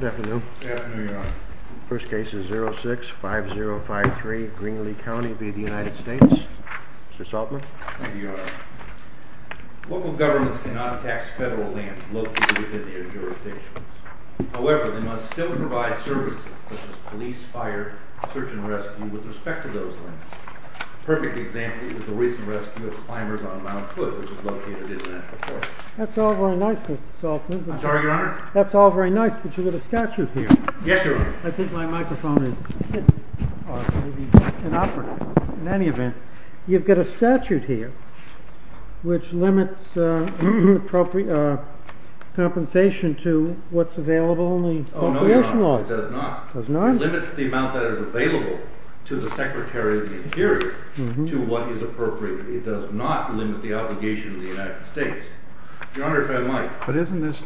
Local governments cannot tax federal lands located within their jurisdictions. However, they must still provide services, such as police, fire, search and rescue, with respect to those lands. A perfect example is the recent rescue of climbers on Mount Hood, which is located in the National Forest. That's all very nice, Mr. Saltzman. I'm sorry, Your Honor? That's all very nice, but you've got a statute here. Yes, Your Honor. I think my microphone is hit, or maybe inoperative. In any event, you've got a statute here which limits compensation to what's available in the appropriation laws. No, it does not. Does not? It limits the amount that is available to the Secretary of the Interior to what is appropriate. It does not limit the obligation of the United States. Your Honor, if I might. But isn't this,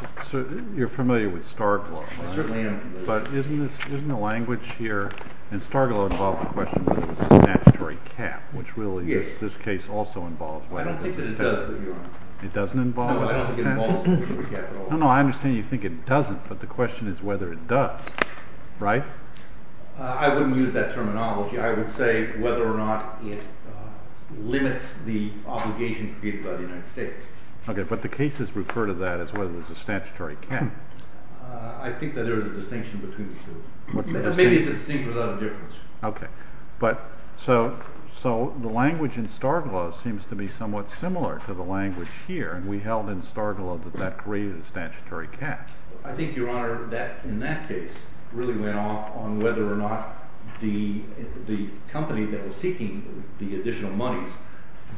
you're familiar with STARGLOW. I certainly am. But isn't the language here, and STARGLOW involves the question whether there's a statutory cap, which really this case also involves. I don't think that it does, but Your Honor. It doesn't involve a statutory cap? No, I don't think it involves a statutory cap at all. No, no, I understand you think it doesn't, but the question is whether it does, right? I wouldn't use that terminology. I would say whether or not it limits the obligation created by the United States. Okay, but the cases refer to that as whether there's a statutory cap. I think that there's a distinction between the two. Maybe it's a distinction without a difference. Okay, but so the language in STARGLOW seems to be somewhat similar to the language here, and we held in STARGLOW that that created a statutory cap. I think, Your Honor, that in that case really went off on whether or not the company that was seeking the additional monies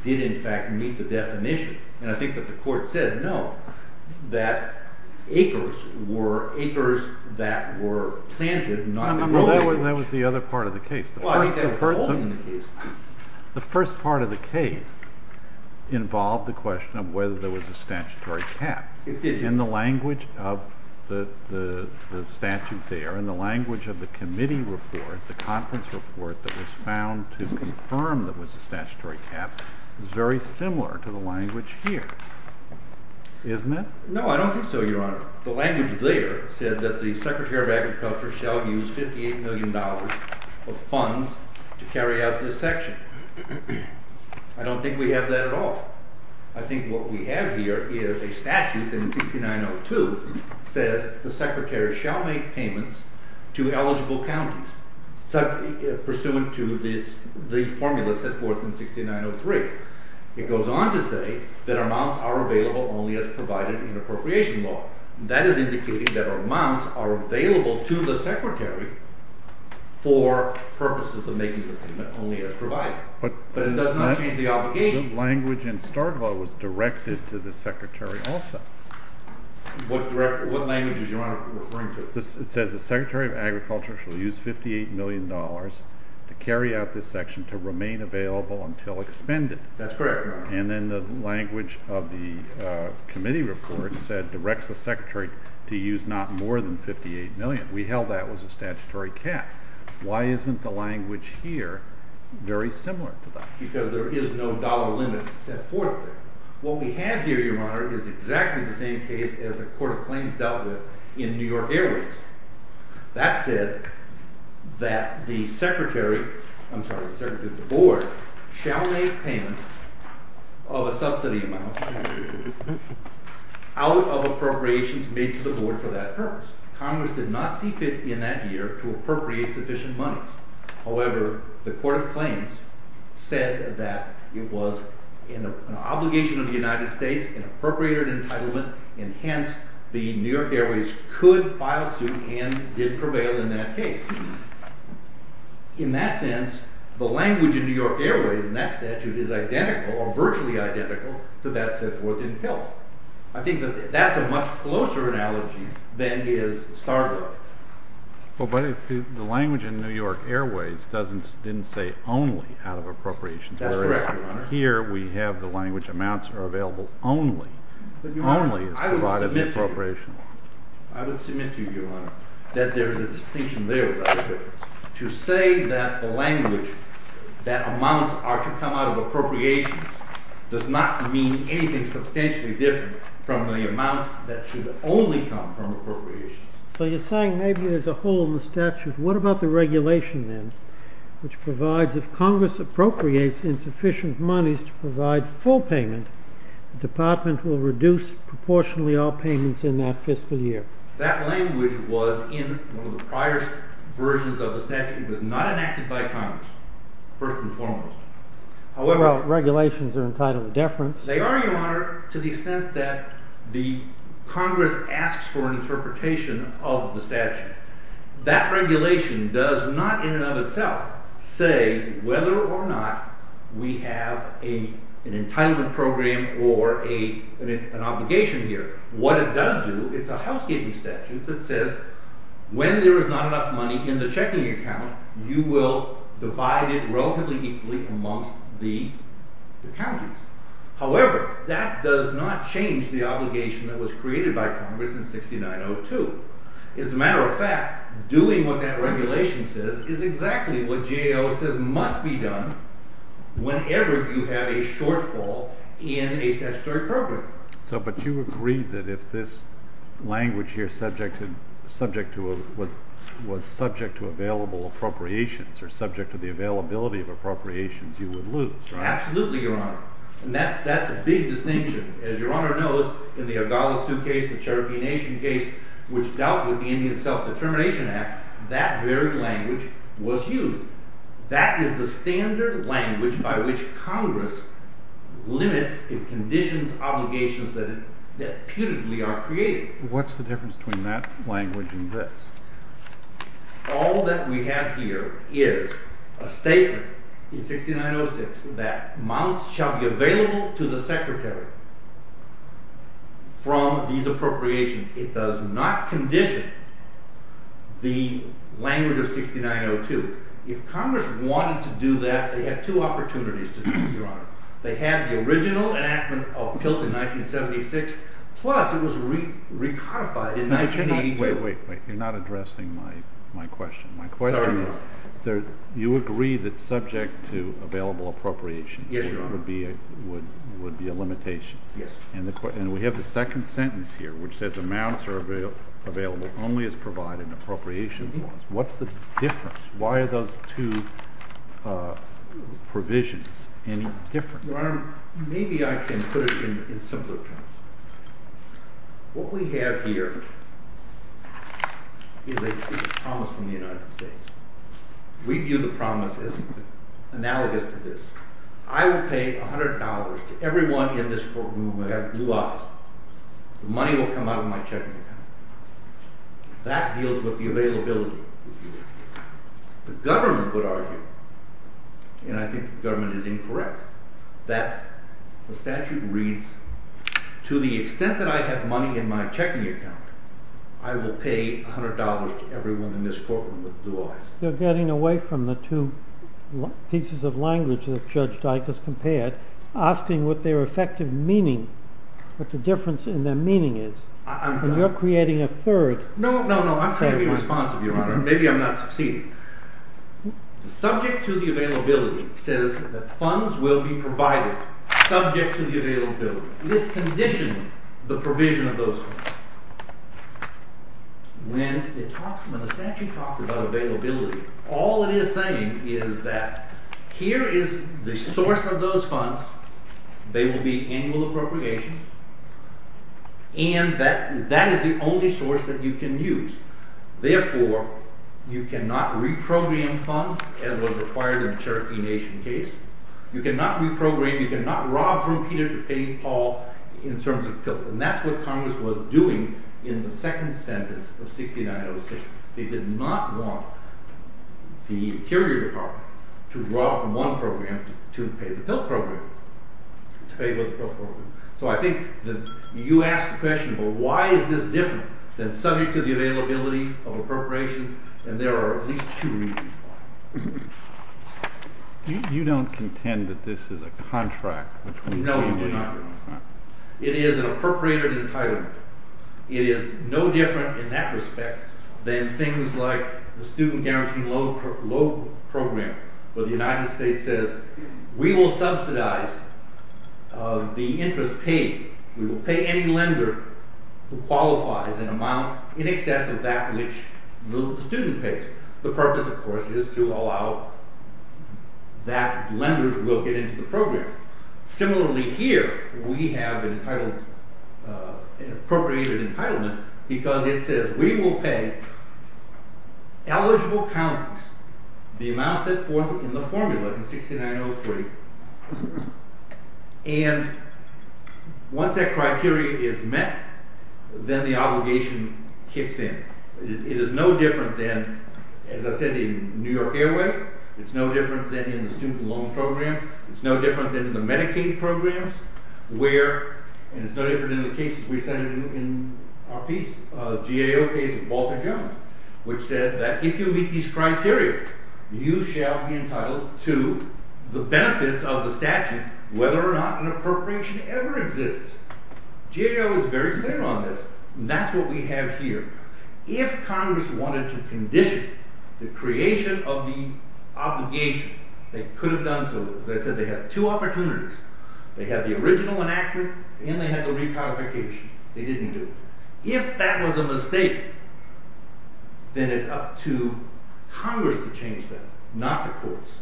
did in fact meet the definition. And I think that the court said no, that acres were acres that were planted, not the whole acreage. Well, that was the other part of the case. Well, I think that was the whole of the case. The first part of the case involved the question of whether there was a statutory cap. It did. And the language of the statute there and the language of the committee report, the conference report that was found to confirm there was a statutory cap, is very similar to the language here, isn't it? No, I don't think so, Your Honor. The language there said that the Secretary of Agriculture shall use $58 million of funds to carry out this section. I don't think we have that at all. I think what we have here is a statute that in 6902 says the Secretary shall make payments to eligible counties pursuant to the formula set forth in 6903. It goes on to say that amounts are available only as provided in appropriation law. That is indicating that amounts are available to the Secretary for purposes of making the payment only as provided. But it does not change the obligation. But the language in Stark Law was directed to the Secretary also. What language is Your Honor referring to? It says the Secretary of Agriculture shall use $58 million to carry out this section to remain available until expended. That's correct, Your Honor. And then the language of the committee report said directs the Secretary to use not more than $58 million. We held that was a statutory cap. Why isn't the language here very similar to that? Because there is no dollar limit set forth there. What we have here, Your Honor, is exactly the same case as the Court of Claims dealt with in New York Airways. That said, that the Secretary, I'm sorry, the Secretary of the Board shall make payments of a subsidy amount out of appropriations made to the Board for that purpose. Congress did not see fit in that year to appropriate sufficient monies. However, the Court of Claims said that it was an obligation of the United States, an appropriated entitlement, and hence the New York Airways could file suit and did prevail in that case. In that sense, the language in New York Airways in that statute is identical or virtually identical to that set forth in PILT. I think that's a much closer analogy than is Stark Law. But the language in New York Airways didn't say only out of appropriations. That's correct, Your Honor. Here we have the language amounts are available only. Only is provided in appropriations. I would submit to you, Your Honor, that there is a distinction there about the difference. To say that the language that amounts are to come out of appropriations does not mean anything substantially different from the amounts that should only come from appropriations. So you're saying maybe there's a hole in the statute. What about the regulation, then, which provides if Congress appropriates insufficient monies to provide full payment, the department will reduce proportionally all payments in that fiscal year? That language was in one of the prior versions of the statute. It was not enacted by Congress, first and foremost. Well, regulations are entitled to deference. They are, Your Honor, to the extent that the Congress asks for an interpretation of the statute. That regulation does not in and of itself say whether or not we have an entitlement program or an obligation here. What it does do, it's a housekeeping statute that says when there is not enough money in the checking account, you will divide it relatively equally amongst the counties. However, that does not change the obligation that was created by Congress in 6902. As a matter of fact, doing what that regulation says is exactly what GAO says must be done whenever you have a shortfall in a statutory program. But you agreed that if this language here was subject to available appropriations or subject to the availability of appropriations, you would lose. Absolutely, Your Honor. And that's a big distinction. As Your Honor knows, in the Ogalla Sioux case, the Cherokee Nation case, which dealt with the Indian Self-Determination Act, that very language was used. That is the standard language by which Congress limits and conditions obligations that putatively are created. What's the difference between that language and this? All that we have here is a statement in 6906 that mounts shall be available to the Secretary from these appropriations. It does not condition the language of 6902. If Congress wanted to do that, they had two opportunities to do that, Your Honor. They had the original enactment of PILT in 1976, plus it was recodified in 1982. Wait, wait, wait. You're not addressing my question. Sorry, Your Honor. My question is you agree that subject to available appropriations would be a limitation. Yes. And we have the second sentence here, which says amounts are available only as provided in appropriations laws. What's the difference? Why are those two provisions any different? Your Honor, maybe I can put it in simpler terms. What we have here is a promise from the United States. We view the promise as analogous to this. I will pay $100 to everyone in this courtroom who has blue eyes. The money will come out of my checking account. That deals with the availability. The government would argue, and I think the government is incorrect, that the statute reads to the extent that I have money in my checking account, I will pay $100 to everyone in this courtroom with blue eyes. You're getting away from the two pieces of language that Judge Dykus compared, asking what their effective meaning, what the difference in their meaning is. You're creating a third. No, no, no, I'm trying to be responsive, Your Honor. Maybe I'm not succeeding. The subject to the availability says that funds will be provided subject to the availability. It is conditioning the provision of those funds. When the statute talks about availability, all it is saying is that here is the source of those funds. They will be annual appropriations. And that is the only source that you can use. Therefore, you cannot reprogram funds as was required in the Cherokee Nation case. You cannot reprogram, you cannot rob from Peter to pay Paul in terms of PILT. And that's what Congress was doing in the second sentence of 6906. They did not want the Interior Department to rob one program to pay the PILT program. So I think that you ask the question, well, why is this different than subject to the availability of appropriations? And there are at least two reasons why. You don't contend that this is a contract? No, Your Honor. It is an appropriated entitlement. It is no different in that respect than things like the student guarantee loan program where the United States says we will subsidize the interest paid. We will pay any lender who qualifies an amount in excess of that which the student pays. The purpose, of course, is to allow that lenders will get into the program. Similarly here, we have an appropriated entitlement because it says we will pay eligible counties the amount set forth in the formula in 6903. And once that criteria is met, then the obligation kicks in. It is no different than, as I said, in New York Airway. It's no different than in the student loan program. It's no different than in the Medicaid programs where, and it's no different than the cases we cited in our piece, GAO case with Walter Jones, which said that if you meet these criteria, you shall be entitled to the benefits of the statute whether or not an appropriation ever exists. GAO is very clear on this. And that's what we have here. If Congress wanted to condition the creation of the obligation, they could have done so. As I said, they had two opportunities. They had the original enactment and they had the recodification. They didn't do it. If that was a mistake, then it's up to Congress to change that, not the courts.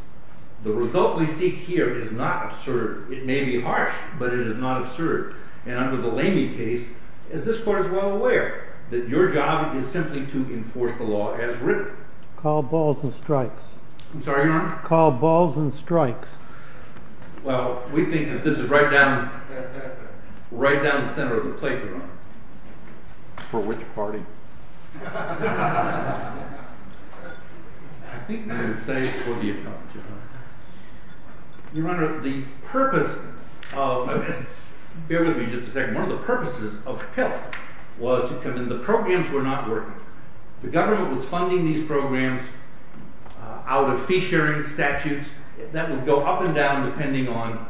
The result we seek here is not absurd. It may be harsh, but it is not absurd. And under the Lamey case, as this Court is well aware, that your job is simply to enforce the law as written. Call balls and strikes. Call balls and strikes. Well, we think that this is right down, right down the center of the plate, Your Honor. For which party? I think we would say for the economy, Your Honor. Your Honor, the purpose of, bear with me just a second. One of the purposes of PIP was to come in, the programs were not working. The government was funding these programs out of fee-sharing statutes. That would go up and down depending on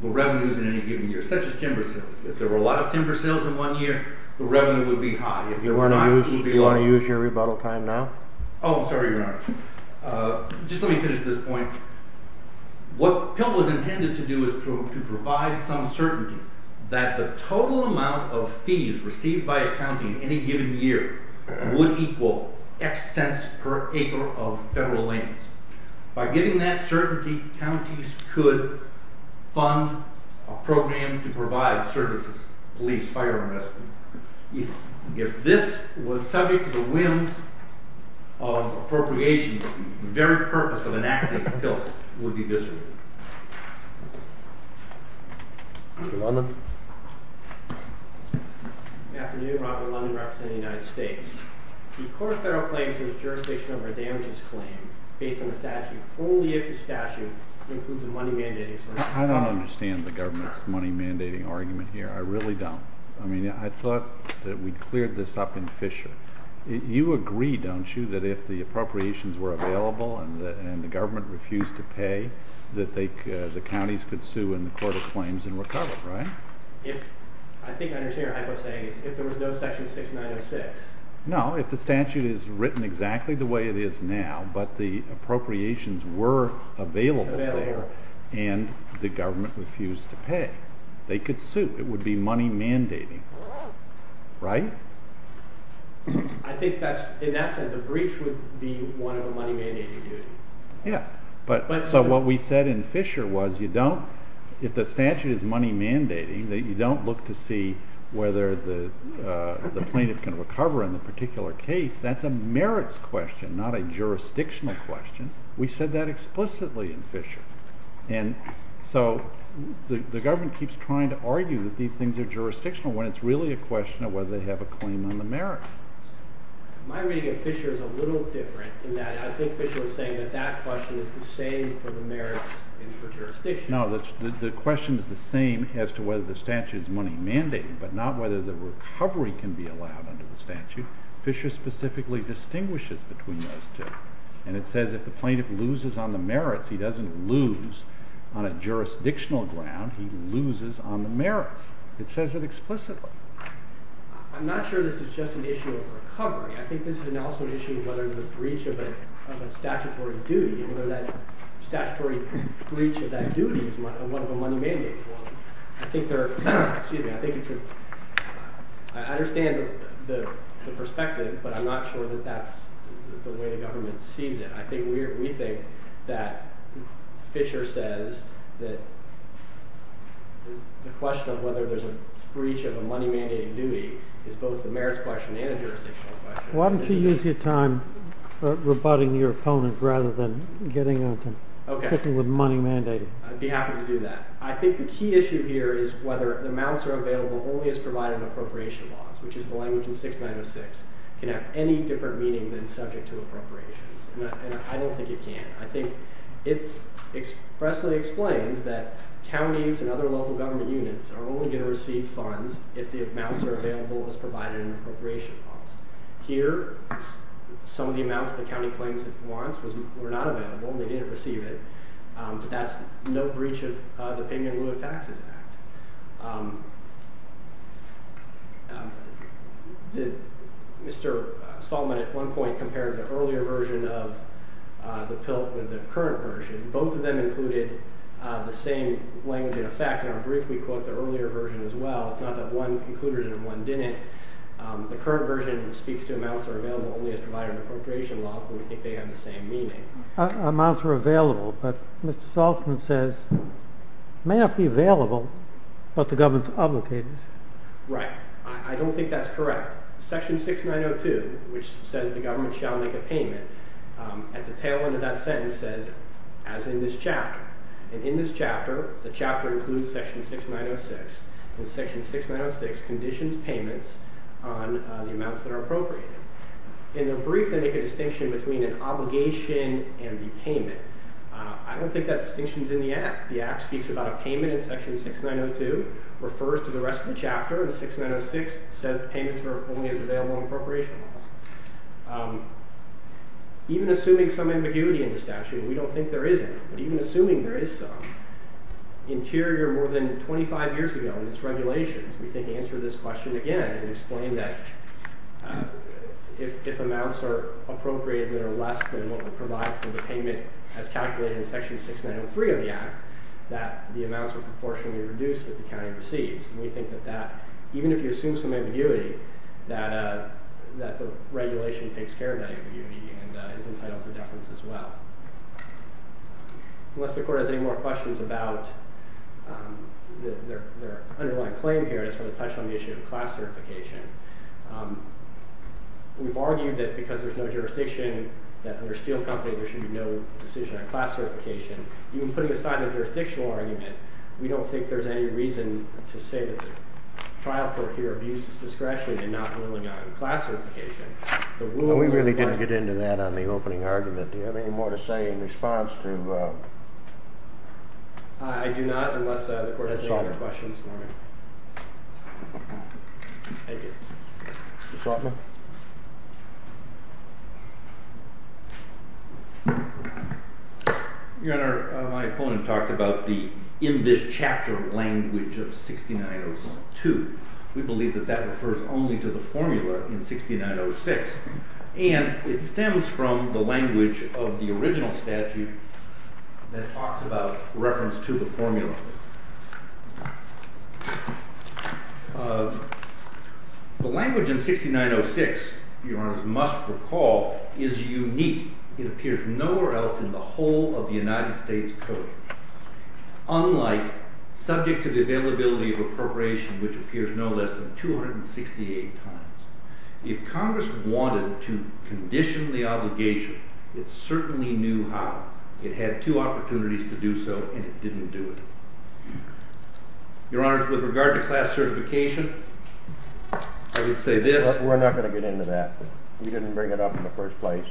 the revenues in any given year, such as timber sales. If there were a lot of timber sales in one year, the revenue would be high. Do you want to use your rebuttal time now? Oh, I'm sorry, Your Honor. Just let me finish this point. What PIP was intended to do was to provide some certainty that the total amount of fees received by a county in any given year would equal X cents per acre of federal lands. By giving that certainty, counties could fund a program to provide services, police, fire and rescue. If this was subject to the whims of appropriations, the very purpose of enacting PILT would be disrupted. Mr. London? Good afternoon. Robert London, representing the United States. The core of federal claims is jurisdiction over damages claims, based on the statute, only if the statute includes a money-mandating... I don't understand the government's money-mandating argument here. I really don't. I mean, I thought that we'd cleared this up in Fisher. You agree, don't you, that if the appropriations were available and the government refused to pay, that the counties could sue in the court of claims and recover, right? I think I understand your hypothesis. If there was no section 6906... No, if the statute is written exactly the way it is now, but the appropriations were available and the government refused to pay, they could sue. It would be money-mandating, right? I think, in that sense, the breach would be one of a money-mandating duty. Yeah. So what we said in Fisher was, if the statute is money-mandating, that you don't look to see whether the plaintiff can recover in the particular case. That's a merits question, not a jurisdictional question. We said that explicitly in Fisher. And so the government keeps trying to argue that these things are jurisdictional, when it's really a question of whether they have a claim on the merits. My reading of Fisher is a little different, in that I think Fisher was saying that that question is the same for the merits and for jurisdiction. No, the question is the same as to whether the statute is money-mandating, but not whether the recovery can be allowed under the statute. Fisher specifically distinguishes between those two, and it says if the plaintiff loses on the merits, he doesn't lose on a jurisdictional ground, he loses on the merits. It says it explicitly. I'm not sure this is just an issue of recovery. I think this is also an issue of whether there's a breach of a statutory duty, whether that statutory breach of that duty is one of a money-mandating one. I think there are – excuse me – I think it's a – I understand the perspective, but I'm not sure that that's the way the government sees it. I think we think that Fisher says that the question of whether there's a breach of a money-mandating duty is both the merits question and a jurisdictional question. Why don't you use your time rebutting your opponent rather than getting into sticking with money-mandating? I'd be happy to do that. I think the key issue here is whether the amounts that are available only as provided in appropriation laws, which is the language in 6906, can have any different meaning than subject to appropriations. And I don't think it can. I think it expressly explains that counties and other local government units are only going to receive funds if the amounts are available as provided in appropriation laws. Here, some of the amounts the county claims it wants were not available and they didn't receive it, but that's no breach of the Penguin Rule of Taxes Act. Mr. Saltman at one point compared the earlier version of the PILT with the current version. Both of them included the same language in effect. In our brief, we quote the earlier version as well. It's not that one included it and one didn't. The current version speaks to amounts that are available only as provided in appropriation laws, but we think they have the same meaning. Amounts are available, but Mr. Saltman says it may not be available, but the government is obligated. Right. I don't think that's correct. Section 6902, which says the government shall make a payment, at the tail end of that sentence says, as in this chapter. And in this chapter, the chapter includes section 6906, and section 6906 conditions payments on the amounts that are appropriated. In the brief, they make a distinction between an obligation and the payment. I don't think that distinction's in the act. The act speaks about a payment in section 6902, refers to the rest of the chapter, and 6906 says payments are only as available in appropriation laws. Even assuming some ambiguity in the statute, we don't think there is any. But even assuming there is some, Interior, more than 25 years ago in its regulations, we think answered this question again, and explained that if amounts are appropriated that are less than what were provided for the payment as calculated in section 6903 of the act, that the amounts are proportionally reduced that the county receives. And we think that that, even if you assume some ambiguity, that the regulation takes care of that ambiguity and is entitled to deference as well. Unless the court has any more questions about their underlying claim here, I just want to touch on the issue of class certification. We've argued that because there's no jurisdiction that under Steel Company there should be no decision on class certification. Even putting aside the jurisdictional argument, we don't think there's any reason to say that the trial court here abuses discretion in not ruling out class certification. We really didn't get into that on the opening argument. Do you have any more to say in response to... I do not, unless the court has any other questions. Thank you. Ms. Altman? Your Honor, my opponent talked about the in this chapter language of 6902. We believe that that refers only to the formula in 6906. And it stems from the language of the original statute that talks about reference to the formula. The language in 6906, Your Honor, you must recall, is unique. It appears nowhere else in the whole of the United States Code. Unlike subject to the availability of appropriation, which appears no less than 268 times. If Congress wanted to condition the obligation, it certainly knew how. It had two opportunities to do so, and it didn't do it. Your Honor, with regard to class certification, I would say this... We're not going to get into that. We didn't bring it up in the first place.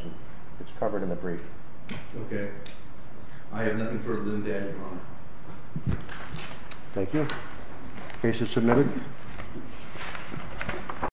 It's covered in the brief. Okay. I have nothing further to add, Your Honor. Thank you. Case is submitted.